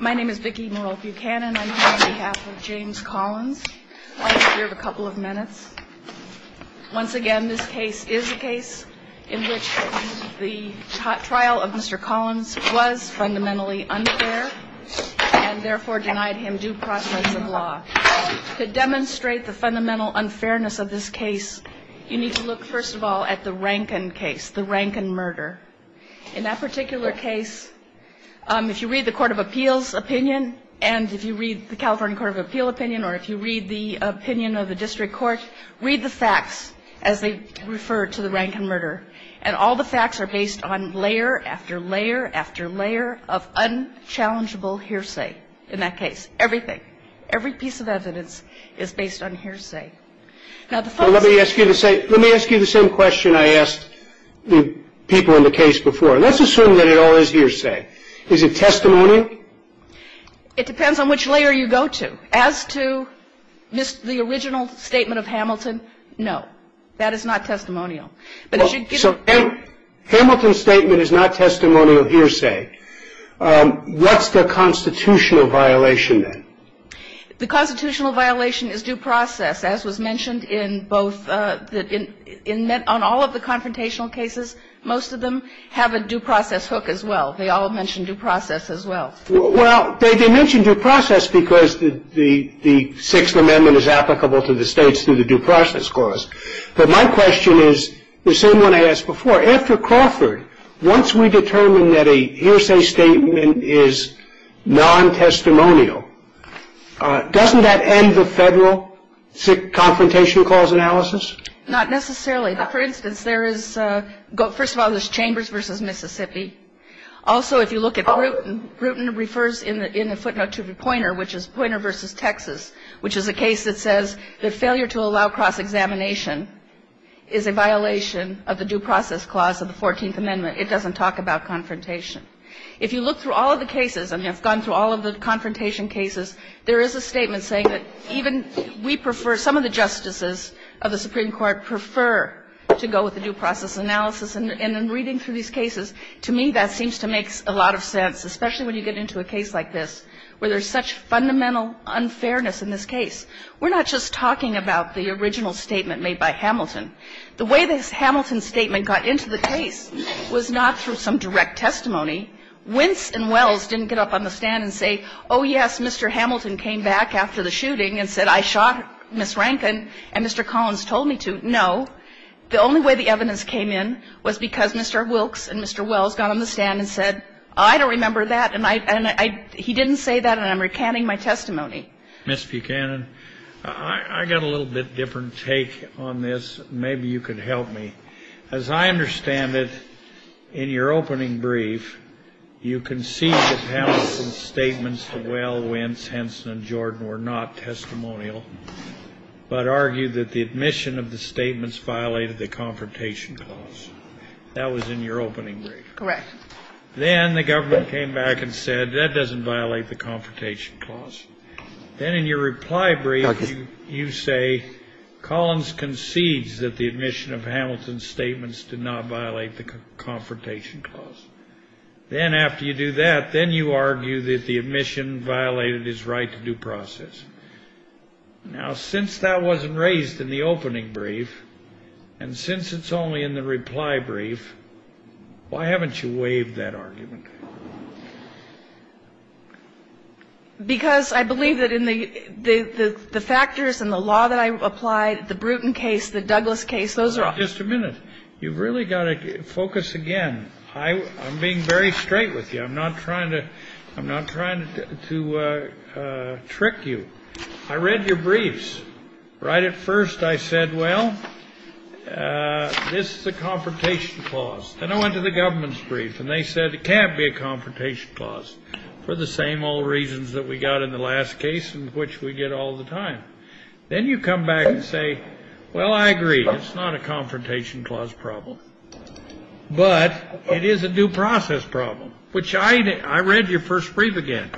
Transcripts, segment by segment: My name is Vicki Morel Buchanan. I'm here on behalf of James Collins. I'll give you a couple of minutes. Once again, this case is a case in which the trial of Mr. Collins was fundamentally unfair and therefore denied him due process of law. To demonstrate the fundamental unfairness of this case, you need to look, first of all, at the Rankin case, the Rankin murder. In that particular case, if you read the Court of Appeals opinion and if you read the California Court of Appeal opinion or if you read the opinion of the district court, read the facts as they refer to the Rankin murder. And all the facts are based on layer after layer after layer of unchallengeable hearsay in that case. Everything, every piece of evidence is based on hearsay. Now, the facts are based on hearsay. Let me ask you the same question I asked the people in the case before. Let's assume that it all is hearsay. Is it testimony? It depends on which layer you go to. As to the original statement of Hamilton, no, that is not testimonial. Hamilton's statement is not testimonial hearsay. What's the constitutional violation then? The constitutional violation is due process, as was mentioned in both the ñ in all of the confrontational cases, most of them have a due process hook as well. They all mention due process as well. Well, they mention due process because the Sixth Amendment is applicable to the States through the due process clause. But my question is the same one I asked before. After Crawford, once we determine that a hearsay statement is non-testimonial, doesn't that end the Federal confrontation clause analysis? Not necessarily. But, for instance, there is ñ first of all, there's Chambers v. Mississippi. Also, if you look at Rutan, Rutan refers in the footnote to Poynter, which is Poynter v. Texas, which is a case that says that failure to allow cross-examination is a violation of the due process clause of the 14th Amendment. It doesn't talk about confrontation. If you look through all of the cases and have gone through all of the confrontation cases, there is a statement saying that even we prefer ñ some of the justices of the Supreme Court prefer to go with the due process analysis. And in reading through these cases, to me, that seems to make a lot of sense, especially when you get into a case like this, where there's such fundamental unfairness in this case. We're not just talking about the original statement made by Hamilton. The way this Hamilton statement got into the case was not through some direct testimony. Wince and Wells didn't get up on the stand and say, oh, yes, Mr. Hamilton came back after the shooting and said, I shot Ms. Rankin, and Mr. Collins told me to. No. The only way the evidence came in was because Mr. Wilkes and Mr. Wells got on the stand and said, I don't remember that, and I ñ he didn't say that, and I'm recanting my testimony. Mr. Buchanan, I got a little bit different take on this. Maybe you could help me. As I understand it, in your opening brief, you conceded that Hamilton's statements to Wells, Wince, Henson and Jordan were not testimonial, but argued that the admission of the statements violated the Confrontation Clause. That was in your opening brief. Correct. Then the government came back and said, that doesn't violate the Confrontation Clause. Then in your reply brief, you say Collins concedes that the admission of Hamilton's statements did not violate the Confrontation Clause. Then after you do that, then you argue that the admission violated his right to due process. Now, since that wasn't raised in the opening brief, and since it's only in the reply brief, why haven't you waived that argument? Because I believe that in the factors and the law that I applied, the Bruton case, the Douglas case, those are all. Just a minute. You've really got to focus again. I'm being very straight with you. I'm not trying to trick you. I read your briefs. Right at first, I said, well, this is the Confrontation Clause. Then I went to the government's brief, and they said, it can't be a Confrontation Clause for the same old reasons that we got in the last case and which we get all the time. Then you come back and say, well, I agree. It's not a Confrontation Clause problem. But it is a due process problem, which I read your first brief again.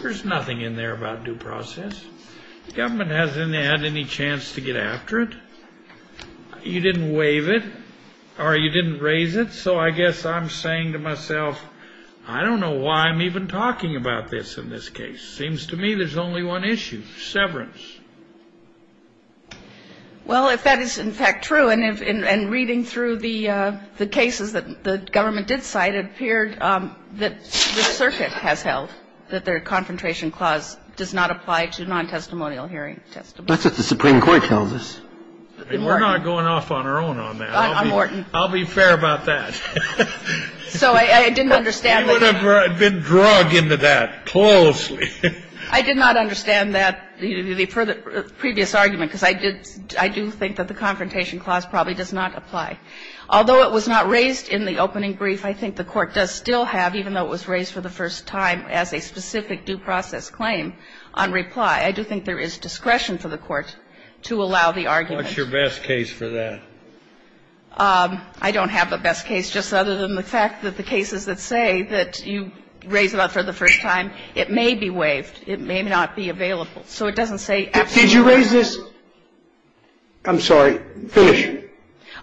There's nothing in there about due process. The government hasn't had any chance to get after it. You didn't waive it, or you didn't raise it. So I guess I'm saying to myself, I don't know why I'm even talking about this in this case. It seems to me there's only one issue, severance. Well, if that is, in fact, true, and reading through the cases that the government did cite, it appeared that the circuit has held that the Confrontation Clause does not apply to non-testimonial hearing testimony. That's what the Supreme Court tells us. And we're not going off on our own on that. I'll be fair about that. So I didn't understand that. You would have been drug into that closely. I did not understand that, the previous argument, because I do think that the Confrontation Clause probably does not apply. Although it was not raised in the opening brief, I think the Court does still have, even though it was raised for the first time as a specific due process claim, on reply. I do think there is discretion for the Court to allow the argument. What's your best case for that? I don't have a best case, just other than the fact that the cases that say that you raised it up for the first time, it may be waived. It may not be available. So it doesn't say absolutely. Did you raise this? I'm sorry. Finish.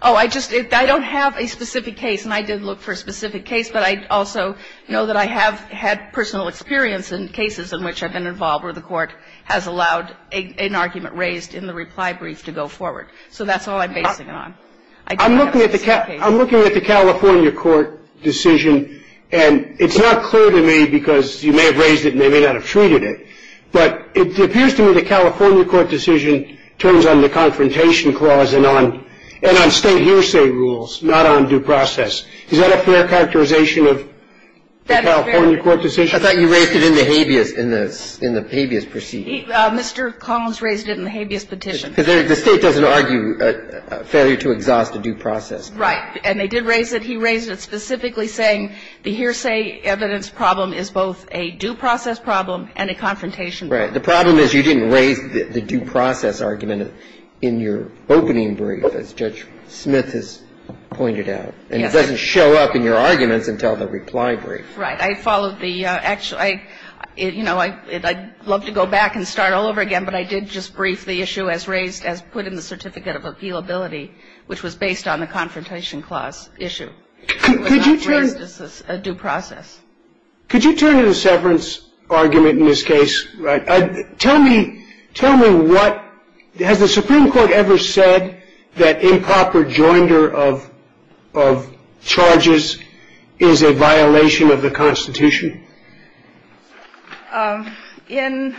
Oh, I just don't have a specific case, and I did look for a specific case. But I also know that I have had personal experience in cases in which I've been involved where the Court has allowed an argument raised in the reply brief to go forward. So that's all I'm basing it on. I don't have a specific case. I'm looking at the California Court decision, and it's not clear to me because you may have raised it and they may not have treated it. But it appears to me the California Court decision turns on the Confrontation Clause and on state hearsay rules, not on due process. Is that a fair characterization of the California Court decision? I thought you raised it in the habeas proceeding. Mr. Collins raised it in the habeas petition. Because the State doesn't argue failure to exhaust a due process. Right. And they did raise it. He raised it specifically saying the hearsay evidence problem is both a due process problem and a confrontation problem. Right. The problem is you didn't raise the due process argument in your opening brief, as Judge Smith has pointed out. Yes. And it doesn't show up in your arguments until the reply brief. Right. I followed the actual ‑‑ you know, I'd love to go back and start all over again, but I did just brief the issue as raised, as put in the Certificate of Appealability, which was based on the Confrontation Clause issue. Could you turn ‑‑ It was not raised as a due process. Could you turn to the severance argument in this case? Tell me what ‑‑ has the Supreme Court ever said that improper joinder of charges is a violation of the Constitution? In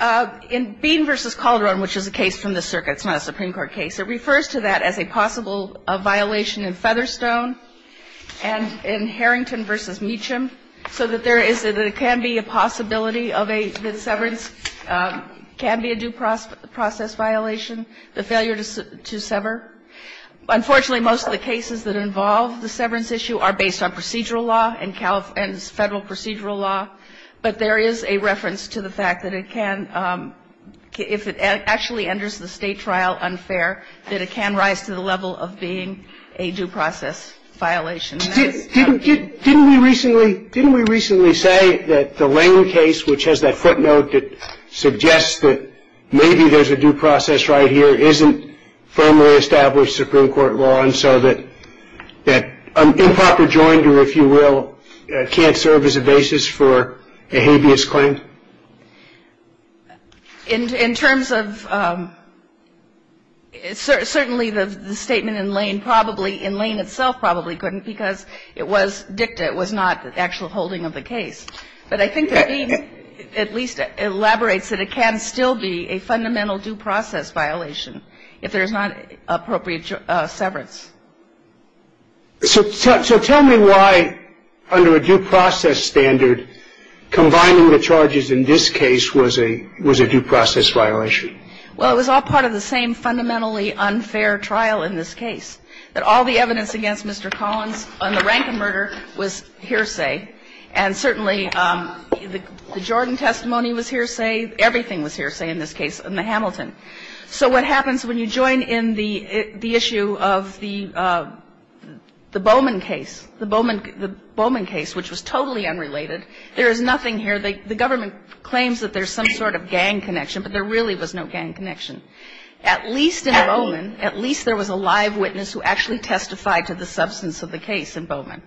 Bean v. Calderon, which is a case from the circuit, it's not a Supreme Court case, it refers to that as a possible violation in Featherstone and in Harrington v. Meacham, so that there is ‑‑ that it can be a possibility of a ‑‑ that severance can be a due process violation, the failure to sever. Unfortunately, most of the cases that involve the severance issue are based on procedural law and federal procedural law, but there is a reference to the fact that it can ‑‑ if it actually enters the State trial unfair, that it can rise to the level of being a due process violation. Didn't we recently say that the Lane case, which has that footnote that suggests that maybe there's a due process right here, isn't firmly established Supreme Court law, and so that improper joinder, if you will, can't serve as a basis for a habeas claim? In terms of ‑‑ certainly the statement in Lane probably, in Lane itself probably couldn't, because it was dicta, it was not actual holding of the case. But I think that Lane at least elaborates that it can still be a fundamental due process violation if there is not appropriate severance. So tell me why, under a due process standard, combining the charges in this case was a due process violation? Well, it was all part of the same fundamentally unfair trial in this case, that all the The Jordan testimony was hearsay. Everything was hearsay in this case, in the Hamilton. So what happens when you join in the issue of the Bowman case, the Bowman case, which was totally unrelated, there is nothing here. The government claims that there's some sort of gang connection, but there really was no gang connection. At least in Bowman, at least there was a live witness who actually testified to the substance of the case in Bowman.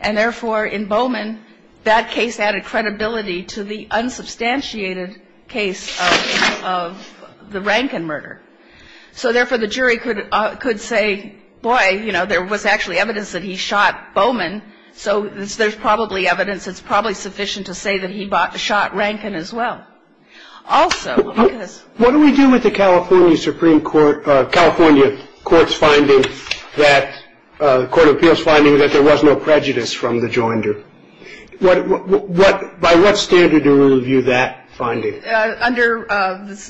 And therefore, in Bowman, that case added credibility to the unsubstantiated case of the Rankin murder. So therefore, the jury could say, boy, you know, there was actually evidence that he shot Bowman, so there's probably evidence. It's probably sufficient to say that he shot Rankin as well. Also, because What do we do with the California Supreme Court, California court's finding that the court of appeals finding that there was no prejudice from the joinder? By what standard do we review that finding? Under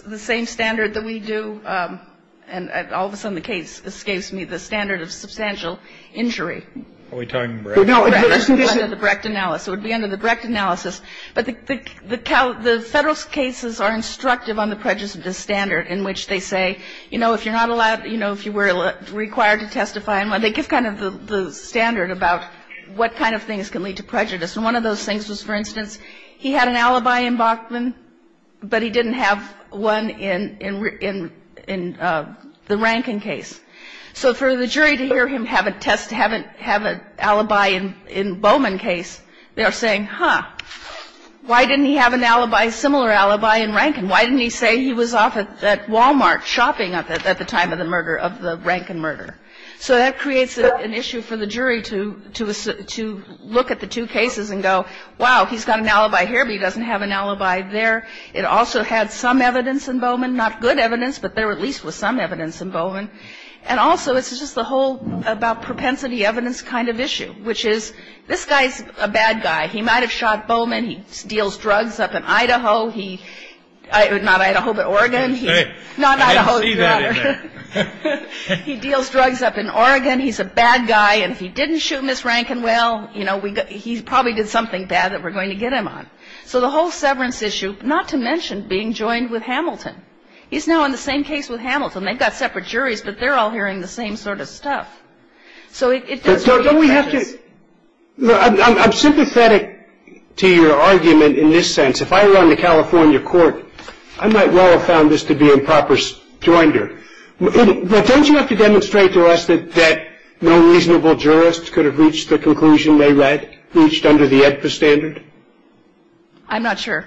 the same standard that we do, and all of a sudden the case escapes me, the standard of substantial injury. Are we talking Brecht? Under the Brecht analysis. It would be under the Brecht analysis. But the federal cases are instructive on the prejudice standard in which they say, you know, if you're not allowed, you know, if you were required to testify, they give kind of the standard about what kind of things can lead to prejudice. And one of those things was, for instance, he had an alibi in Bachman, but he didn't have one in the Rankin case. So for the jury to hear him have a test to have an alibi in Bowman case, they are saying, huh, why didn't he have an alibi, similar alibi in Rankin? And why didn't he say he was off at Wal-Mart shopping at the time of the murder of the Rankin murder? So that creates an issue for the jury to look at the two cases and go, wow, he's got an alibi here, but he doesn't have an alibi there. It also had some evidence in Bowman, not good evidence, but there at least was some evidence in Bowman. And also it's just the whole about propensity evidence kind of issue, which is this guy is a bad guy. He might have shot Bowman. He deals drugs up in Idaho. Not Idaho, but Oregon. I didn't see that in there. He deals drugs up in Oregon. He's a bad guy. And if he didn't shoot Ms. Rankin, well, he probably did something bad that we're going to get him on. So the whole severance issue, not to mention being joined with Hamilton. He's now in the same case with Hamilton. They've got separate juries, but they're all hearing the same sort of stuff. So it does create prejudice. I'm sympathetic to your argument in this sense. If I were on the California court, I might well have found this to be improper joinder. But don't you have to demonstrate to us that no reasonable jurist could have reached the conclusion they reached under the AEDPA standard? I'm not sure.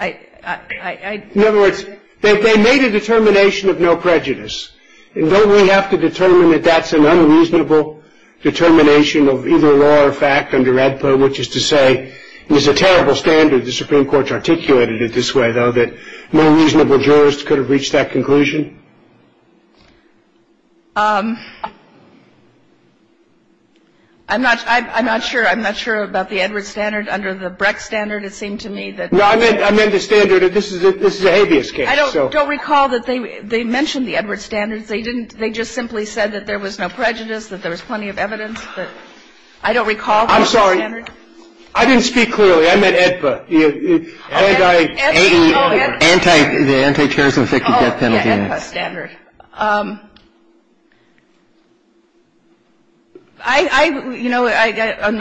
In other words, they made a determination of no prejudice. And don't we have to determine that that's an unreasonable determination of either law or fact under AEDPA, which is to say it's a terrible standard. The Supreme Court articulated it this way, though, that no reasonable jurist could have reached that conclusion. I'm not sure. I'm not sure about the Edwards standard. Under the Breck standard, it seemed to me that the standard of this is a habeas case. I don't recall that they mentioned the Edwards standards. They didn't. They just simply said that there was no prejudice, that there was plenty of evidence. I don't recall the Edwards standard. I'm sorry. I didn't speak clearly. I meant AEDPA. The anti-terrorism 50 death penalty. Oh, yeah, AEDPA standard. I, you know,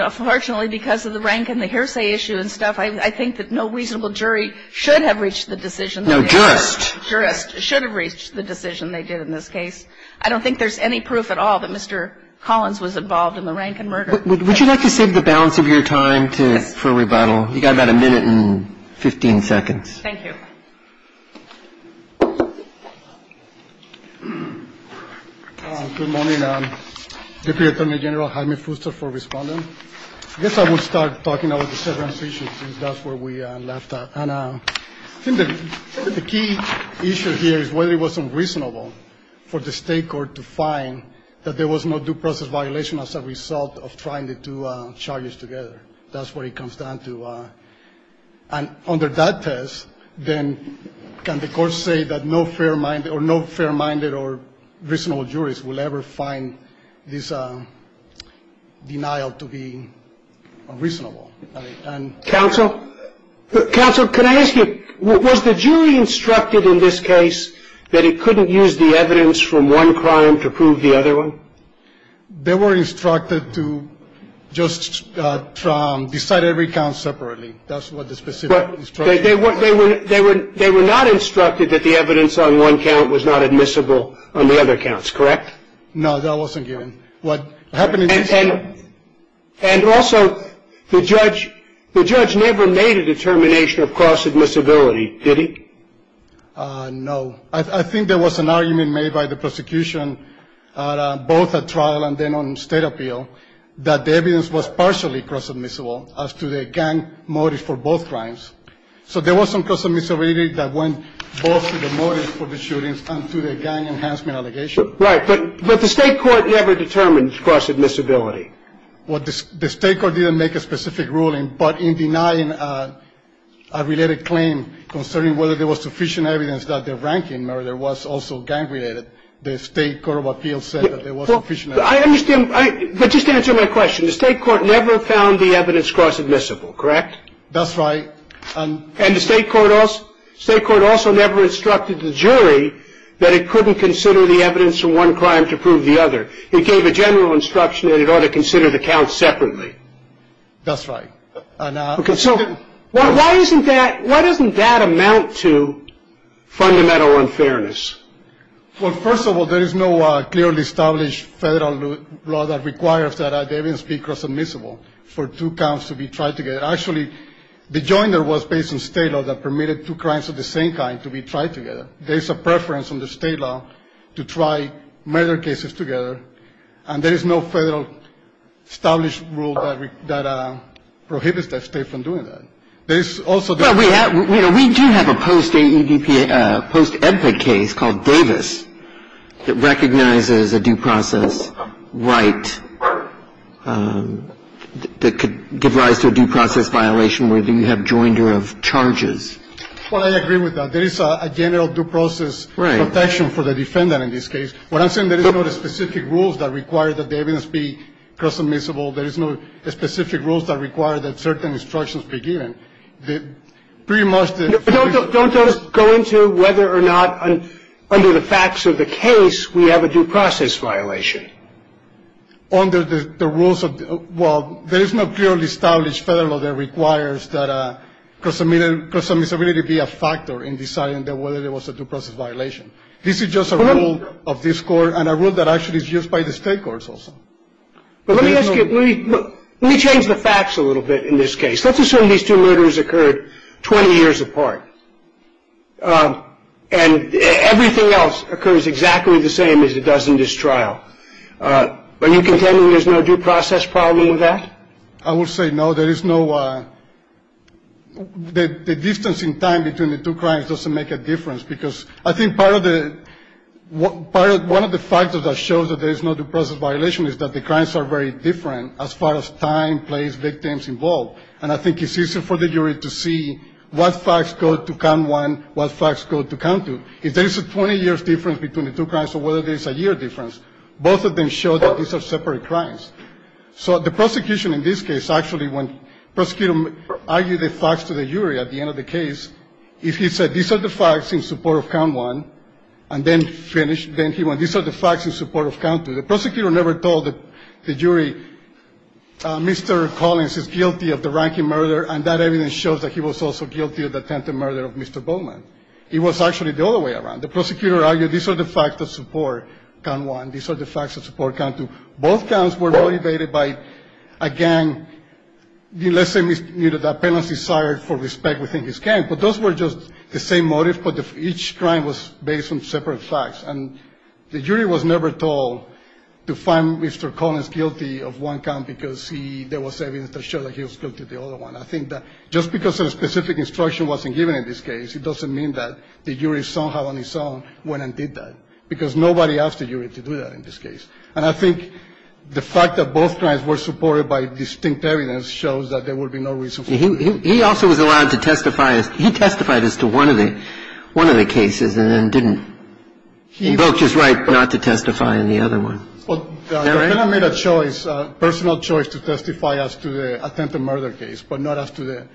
unfortunately, because of the rank and the hearsay issue and stuff, I think that no reasonable jury should have reached the decision. No, jurist. Jurist should have reached the decision they did in this case. I don't think there's any proof at all that Mr. Collins was involved in the rank and murder. Would you like to save the balance of your time for rebuttal? You've got about a minute and 15 seconds. Thank you. Good morning. Deputy Attorney General Jaime Fuster for responding. I guess I will start talking about the severance issue, since that's where we left off. The key issue here is whether it was unreasonable for the state court to find that there was no due process violation as a result of trying the two charges together. That's what it comes down to. And under that test, then can the court say that no fair-minded or no fair-minded or reasonable jurist will ever find this denial to be unreasonable? Counsel? Counsel, can I ask you, was the jury instructed in this case that it couldn't use the evidence from one crime to prove the other one? They were instructed to just decide every count separately. That's what the specific instruction was. They were not instructed that the evidence on one count was not admissible on the other counts, correct? No, that wasn't given. And also, the judge never made a determination of cross-admissibility, did he? No. I think there was an argument made by the prosecution, both at trial and then on state appeal, that the evidence was partially cross-admissible as to the gang motive for both crimes. So there was some cross-admissibility that went both to the motive for the shootings and to the gang enhancement allegation. Right. But the state court never determined cross-admissibility. Well, the state court didn't make a specific ruling, but in denying a related claim concerning whether there was sufficient evidence that the ranking murder was also gang-related, the state court of appeals said that there was sufficient evidence. I understand. But just answer my question. The state court never found the evidence cross-admissible, correct? That's right. And the state court also never instructed the jury that it couldn't consider the evidence for one crime to prove the other. It gave a general instruction that it ought to consider the counts separately. That's right. So why doesn't that amount to fundamental unfairness? Well, first of all, there is no clearly established federal law that requires that the evidence be cross-admissible for two counts to be tried together. Actually, the joiner was based on state law that permitted two crimes of the same kind to be tried together. There is a preference under state law to try murder cases together, and there is no federal established rule that prohibits that state from doing that. There is also the ---- Well, we do have a post-AEDPA case called Davis that recognizes a due process right that could give rise to a due process violation where you have joiner of charges. Well, I agree with that. There is a general due process protection for the defendant in this case. What I'm saying, there is no specific rules that require that the evidence be cross-admissible. There is no specific rules that require that certain instructions be given. Pretty much the ---- Don't just go into whether or not under the facts of the case we have a due process violation. Under the rules of the ---- Well, there is no clearly established federal law that requires that cross-admissibility be a factor in deciding whether there was a due process violation. This is just a rule of this Court and a rule that actually is used by the state courts also. Let me ask you, let me change the facts a little bit in this case. Let's assume these two murders occurred 20 years apart, and everything else occurs exactly the same as it does in this trial. Are you contending there is no due process problem with that? I will say no. There is no ---- The distance in time between the two crimes doesn't make a difference because I think part of the ---- One of the factors that shows that there is no due process violation is that the crimes are very different as far as time, place, victims involved. And I think it's easy for the jury to see what facts go to count one, what facts go to count two. If there is a 20-year difference between the two crimes or whether there is a year difference, both of them show that these are separate crimes. So the prosecution in this case actually when prosecutor argued the facts to the jury at the end of the case, if he said these are the facts in support of count one and then finished, then he went these are the facts in support of count two. The prosecutor never told the jury Mr. Collins is guilty of the ranking murder and that evidence shows that he was also guilty of the attempted murder of Mr. Bowman. It was actually the other way around. The prosecutor argued these are the facts that support count one. These are the facts that support count two. Both counts were motivated by, again, let's say the penalty is sired for respect within his gang. But those were just the same motive, but each crime was based on separate facts. And the jury was never told to find Mr. Collins guilty of one count because there was evidence that showed that he was guilty of the other one. I think that just because a specific instruction wasn't given in this case, it doesn't mean that the jury somehow on its own went and did that, because nobody asked the jury to do that in this case. And I think the fact that both crimes were supported by distinct evidence shows that there would be no reason for that. He also was allowed to testify. He testified as to one of the cases and then didn't invoke his right not to testify in the other one. Well, the defendant made a choice, a personal choice to testify as to the attempted murder case, but not as to the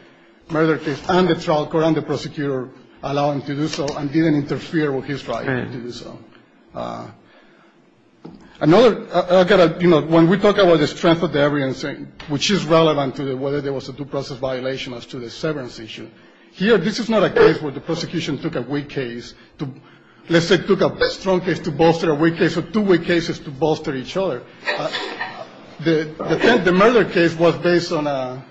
murder case. And the trial court and the prosecutor allowed him to do so and didn't interfere with his right to do so. Another, you know, when we talk about the strength of the evidence, which is relevant to whether there was a due process violation as to the severance issue. Here, this is not a case where the prosecution took a weak case to, let's say, took a strong case to bolster a weak case or two weak cases to bolster each other. The murder case was based on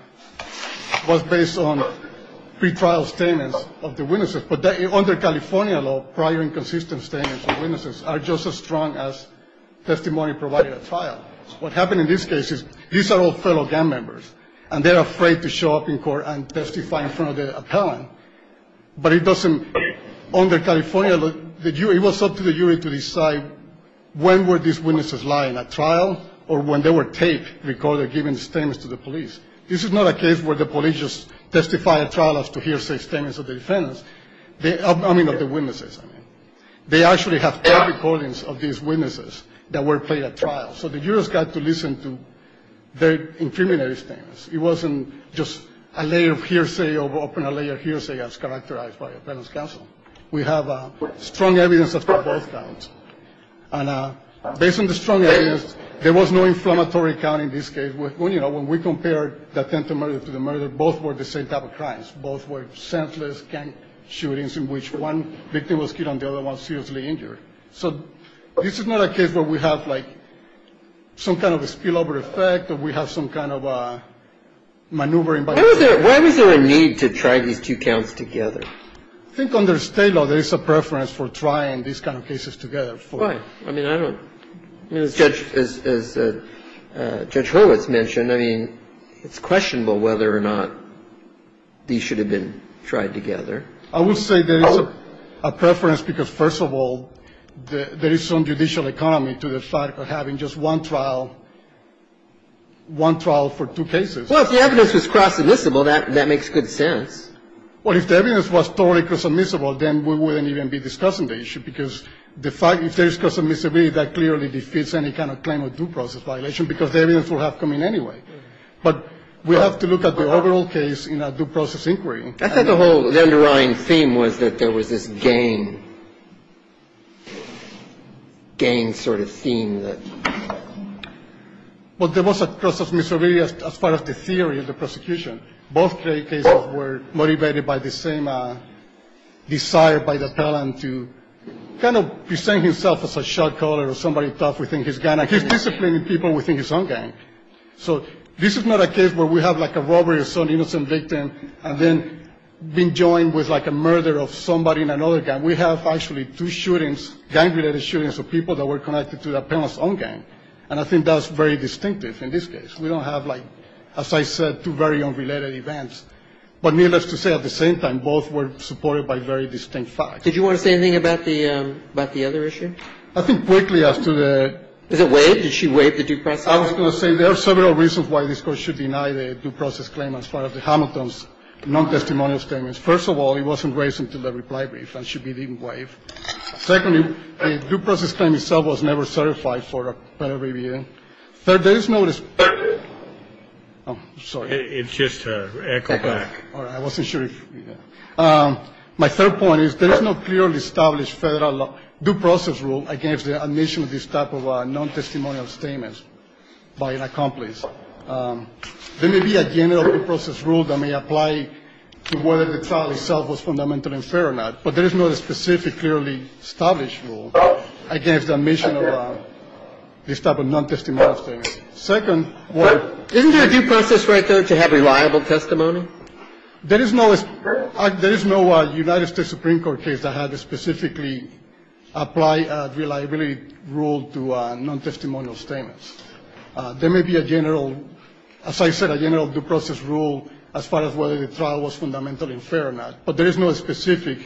pre-trial statements of the witnesses, but under California law, prior inconsistent statements of witnesses are just as strong as testimony provided at trial. What happened in this case is these are all fellow gang members, and they're afraid to show up in court and testify in front of the appellant. But it doesn't, under California law, it was up to the jury to decide when were these witnesses lying at trial or when they were taped, recorded, given statements to the police. This is not a case where the police just testify at trial as to hearsay statements of the witnesses. So the jurors got to listen to their incriminating statements. It wasn't just a layer of hearsay over a layer of hearsay as characterized by appellant's counsel. We have strong evidence of both counts. And based on the strong evidence, there was no inflammatory count in this case. When we compared the attempted murder to the murder, both were the same type of crimes. Both were senseless gang shootings in which one victim was killed and the other one seriously injured. So this is not a case where we have, like, some kind of spillover effect or we have some kind of maneuvering by the jury. Why was there a need to try these two counts together? I think under state law, there is a preference for trying these kind of cases together. Right. I mean, I don't know. As Judge Horowitz mentioned, I mean, it's questionable whether or not these should have been tried together. I would say there is a preference because, first of all, there is some judicial economy to the fact of having just one trial, one trial for two cases. Well, if the evidence was cross-admissible, that makes good sense. Well, if the evidence was totally cross-admissible, then we wouldn't even be discussing the issue because the fact that if there is cross-admissibility, that clearly defeats any kind of claim of due process violation because the evidence will have come in anyway. But we have to look at the overall case in a due process inquiry. I thought the whole underlying theme was that there was this gang, gang sort of theme that. Well, there was a cross-admissibility as far as the theory of the prosecution. Both cases were motivated by the same desire by the felon to kind of present himself as a shot caller or somebody tough within his gang. He's disciplining people within his own gang. So this is not a case where we have like a robbery of some innocent victim and then been joined with like a murder of somebody in another gang. We have actually two shootings, gang-related shootings of people that were connected to the felon's own gang. And I think that's very distinctive in this case. We don't have like, as I said, two very unrelated events. But needless to say, at the same time, both were supported by very distinct facts. Did you want to say anything about the other issue? I think quickly as to the. Is it waived? Did she waive the due process? I was going to say there are several reasons why this court should deny the due process claim as part of the Hamilton's non-testimonial statements. First of all, it wasn't waived until the reply brief. And she didn't waive. Secondly, the due process claim itself was never certified for a penalty review. Third, there is no. Oh, sorry. It's just echo back. I wasn't sure. My third point is there is no clearly established federal due process rule against the admission of this type of non-testimonial statements by an accomplice. There may be a general due process rule that may apply to whether the trial itself was fundamentally fair or not. But there is no specific clearly established rule against the admission of this type of non-testimonial statements. Second. Isn't there a due process right there to have reliable testimony? There is no United States Supreme Court case that had specifically apply reliability rule to non-testimonial statements. There may be a general, as I said, a general due process rule as far as whether the trial was fundamentally fair or not. But there is no specific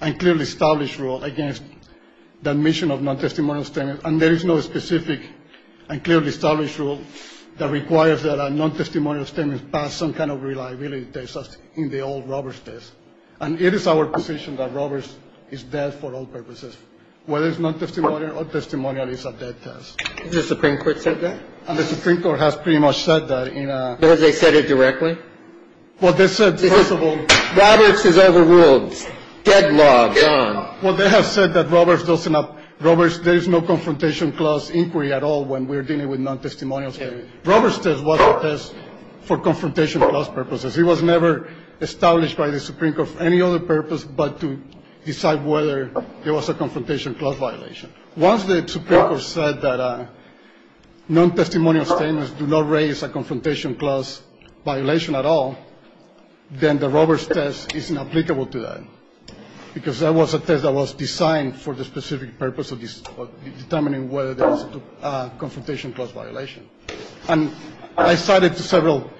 and clearly established rule against the admission of non-testimonial statements. And there is no specific and clearly established rule that requires that a non-testimonial statement pass some kind of reliability test in the old Roberts test. And it is our position that Roberts is dead for all purposes. Whether it's non-testimonial or testimonial, it's a dead test. Has the Supreme Court said that? And the Supreme Court has pretty much said that in a... Has they said it directly? Well, they said, first of all... Roberts is overruled. Dead law. Dead law. Well, they have said that Roberts doesn't have... Roberts, there is no confrontation clause inquiry at all when we're dealing with non-testimonial statements. Roberts test was a test for confrontation clause purposes. It was never established by the Supreme Court for any other purpose but to decide whether there was a confrontation clause violation. Once the Supreme Court said that non-testimonial statements do not raise a confrontation clause violation at all, then the Roberts test isn't applicable to that. Because that was a test that was designed for the specific purpose of determining whether there was a confrontation clause violation. And I cited several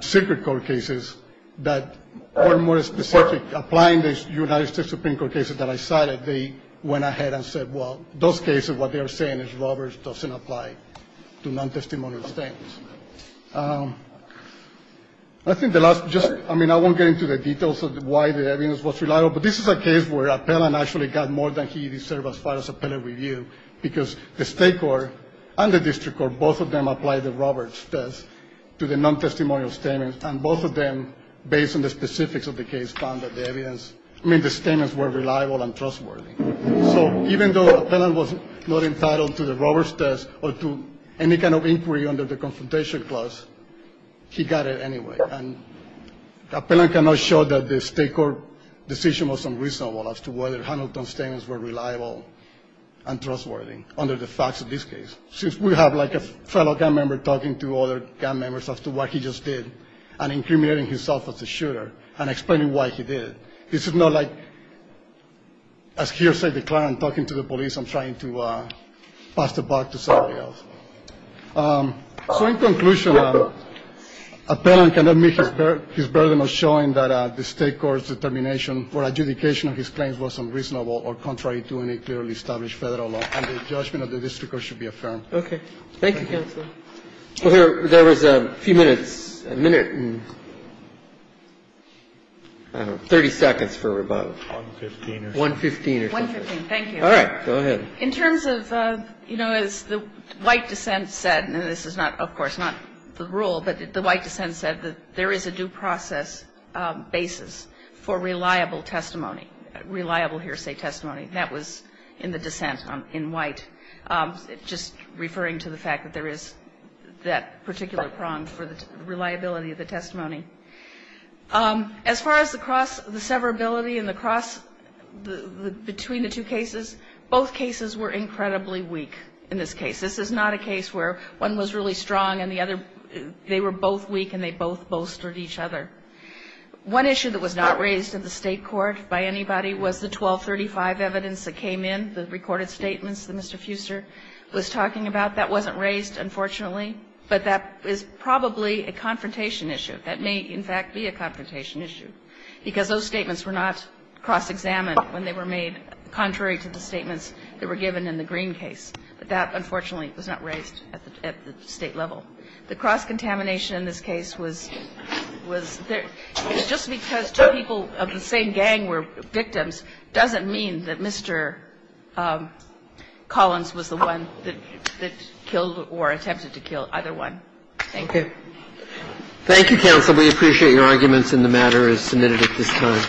secret court cases that were more specific, applying the United States Supreme Court cases that I cited. They went ahead and said, well, those cases, what they are saying is Roberts doesn't apply to non-testimonial statements. I think the last just... I mean, I won't get into the details of why the evidence was reliable. But this is a case where Appellant actually got more than he deserved as far as appellate review, because the State court and the district court, both of them applied the Roberts test to the non-testimonial statements. And both of them, based on the specifics of the case, found that the evidence... I mean, the statements were reliable and trustworthy. So even though Appellant was not entitled to the Roberts test or to any kind of inquiry under the confrontation clause, he got it anyway. And Appellant cannot show that the State court decision was unreasonable as to whether Hamilton's statements were reliable and trustworthy under the facts of this case. Since we have like a fellow gun member talking to other gun members as to what he just did and incriminating himself as a shooter and explaining why he did it, this is not like, as hearsay declines, talking to the police and trying to pass the buck to somebody else. So in conclusion, Appellant cannot admit his burden of showing that the State court's determination for adjudication of his claims was unreasonable or contrary to any clearly established Federal law. And the judgment of the district court should be affirmed. Okay. Thank you, Counsel. Well, there was a few minutes, a minute and, I don't know, 30 seconds for about... One-fifteen or something. One-fifteen or something. One-fifteen. Thank you. All right. Go ahead. In terms of, you know, as the white dissent said, and this is not, of course, not the rule, but the white dissent said that there is a due process basis for reliable testimony, reliable hearsay testimony. That was in the dissent in white, just referring to the fact that there is that particular prong for the reliability of the testimony. As far as the cross, the severability and the cross between the two cases, both cases were incredibly weak in this case. This is not a case where one was really strong and the other, they were both weak and they both bolstered each other. One issue that was not raised in the State court by anybody was the 1235 evidence that came in, the recorded statements that Mr. Fuser was talking about. That wasn't raised, unfortunately, but that is probably a confrontation issue. That may, in fact, be a confrontation issue, because those statements were not cross-examined when they were made contrary to the statements that were given in the Green case. But that, unfortunately, was not raised at the State level. The cross-contamination in this case was just because two people of the same gang were victims doesn't mean that Mr. Collins was the one that killed or attempted to kill either one. Thank you. Thank you, counsel. We appreciate your arguments in the matter as submitted at this time.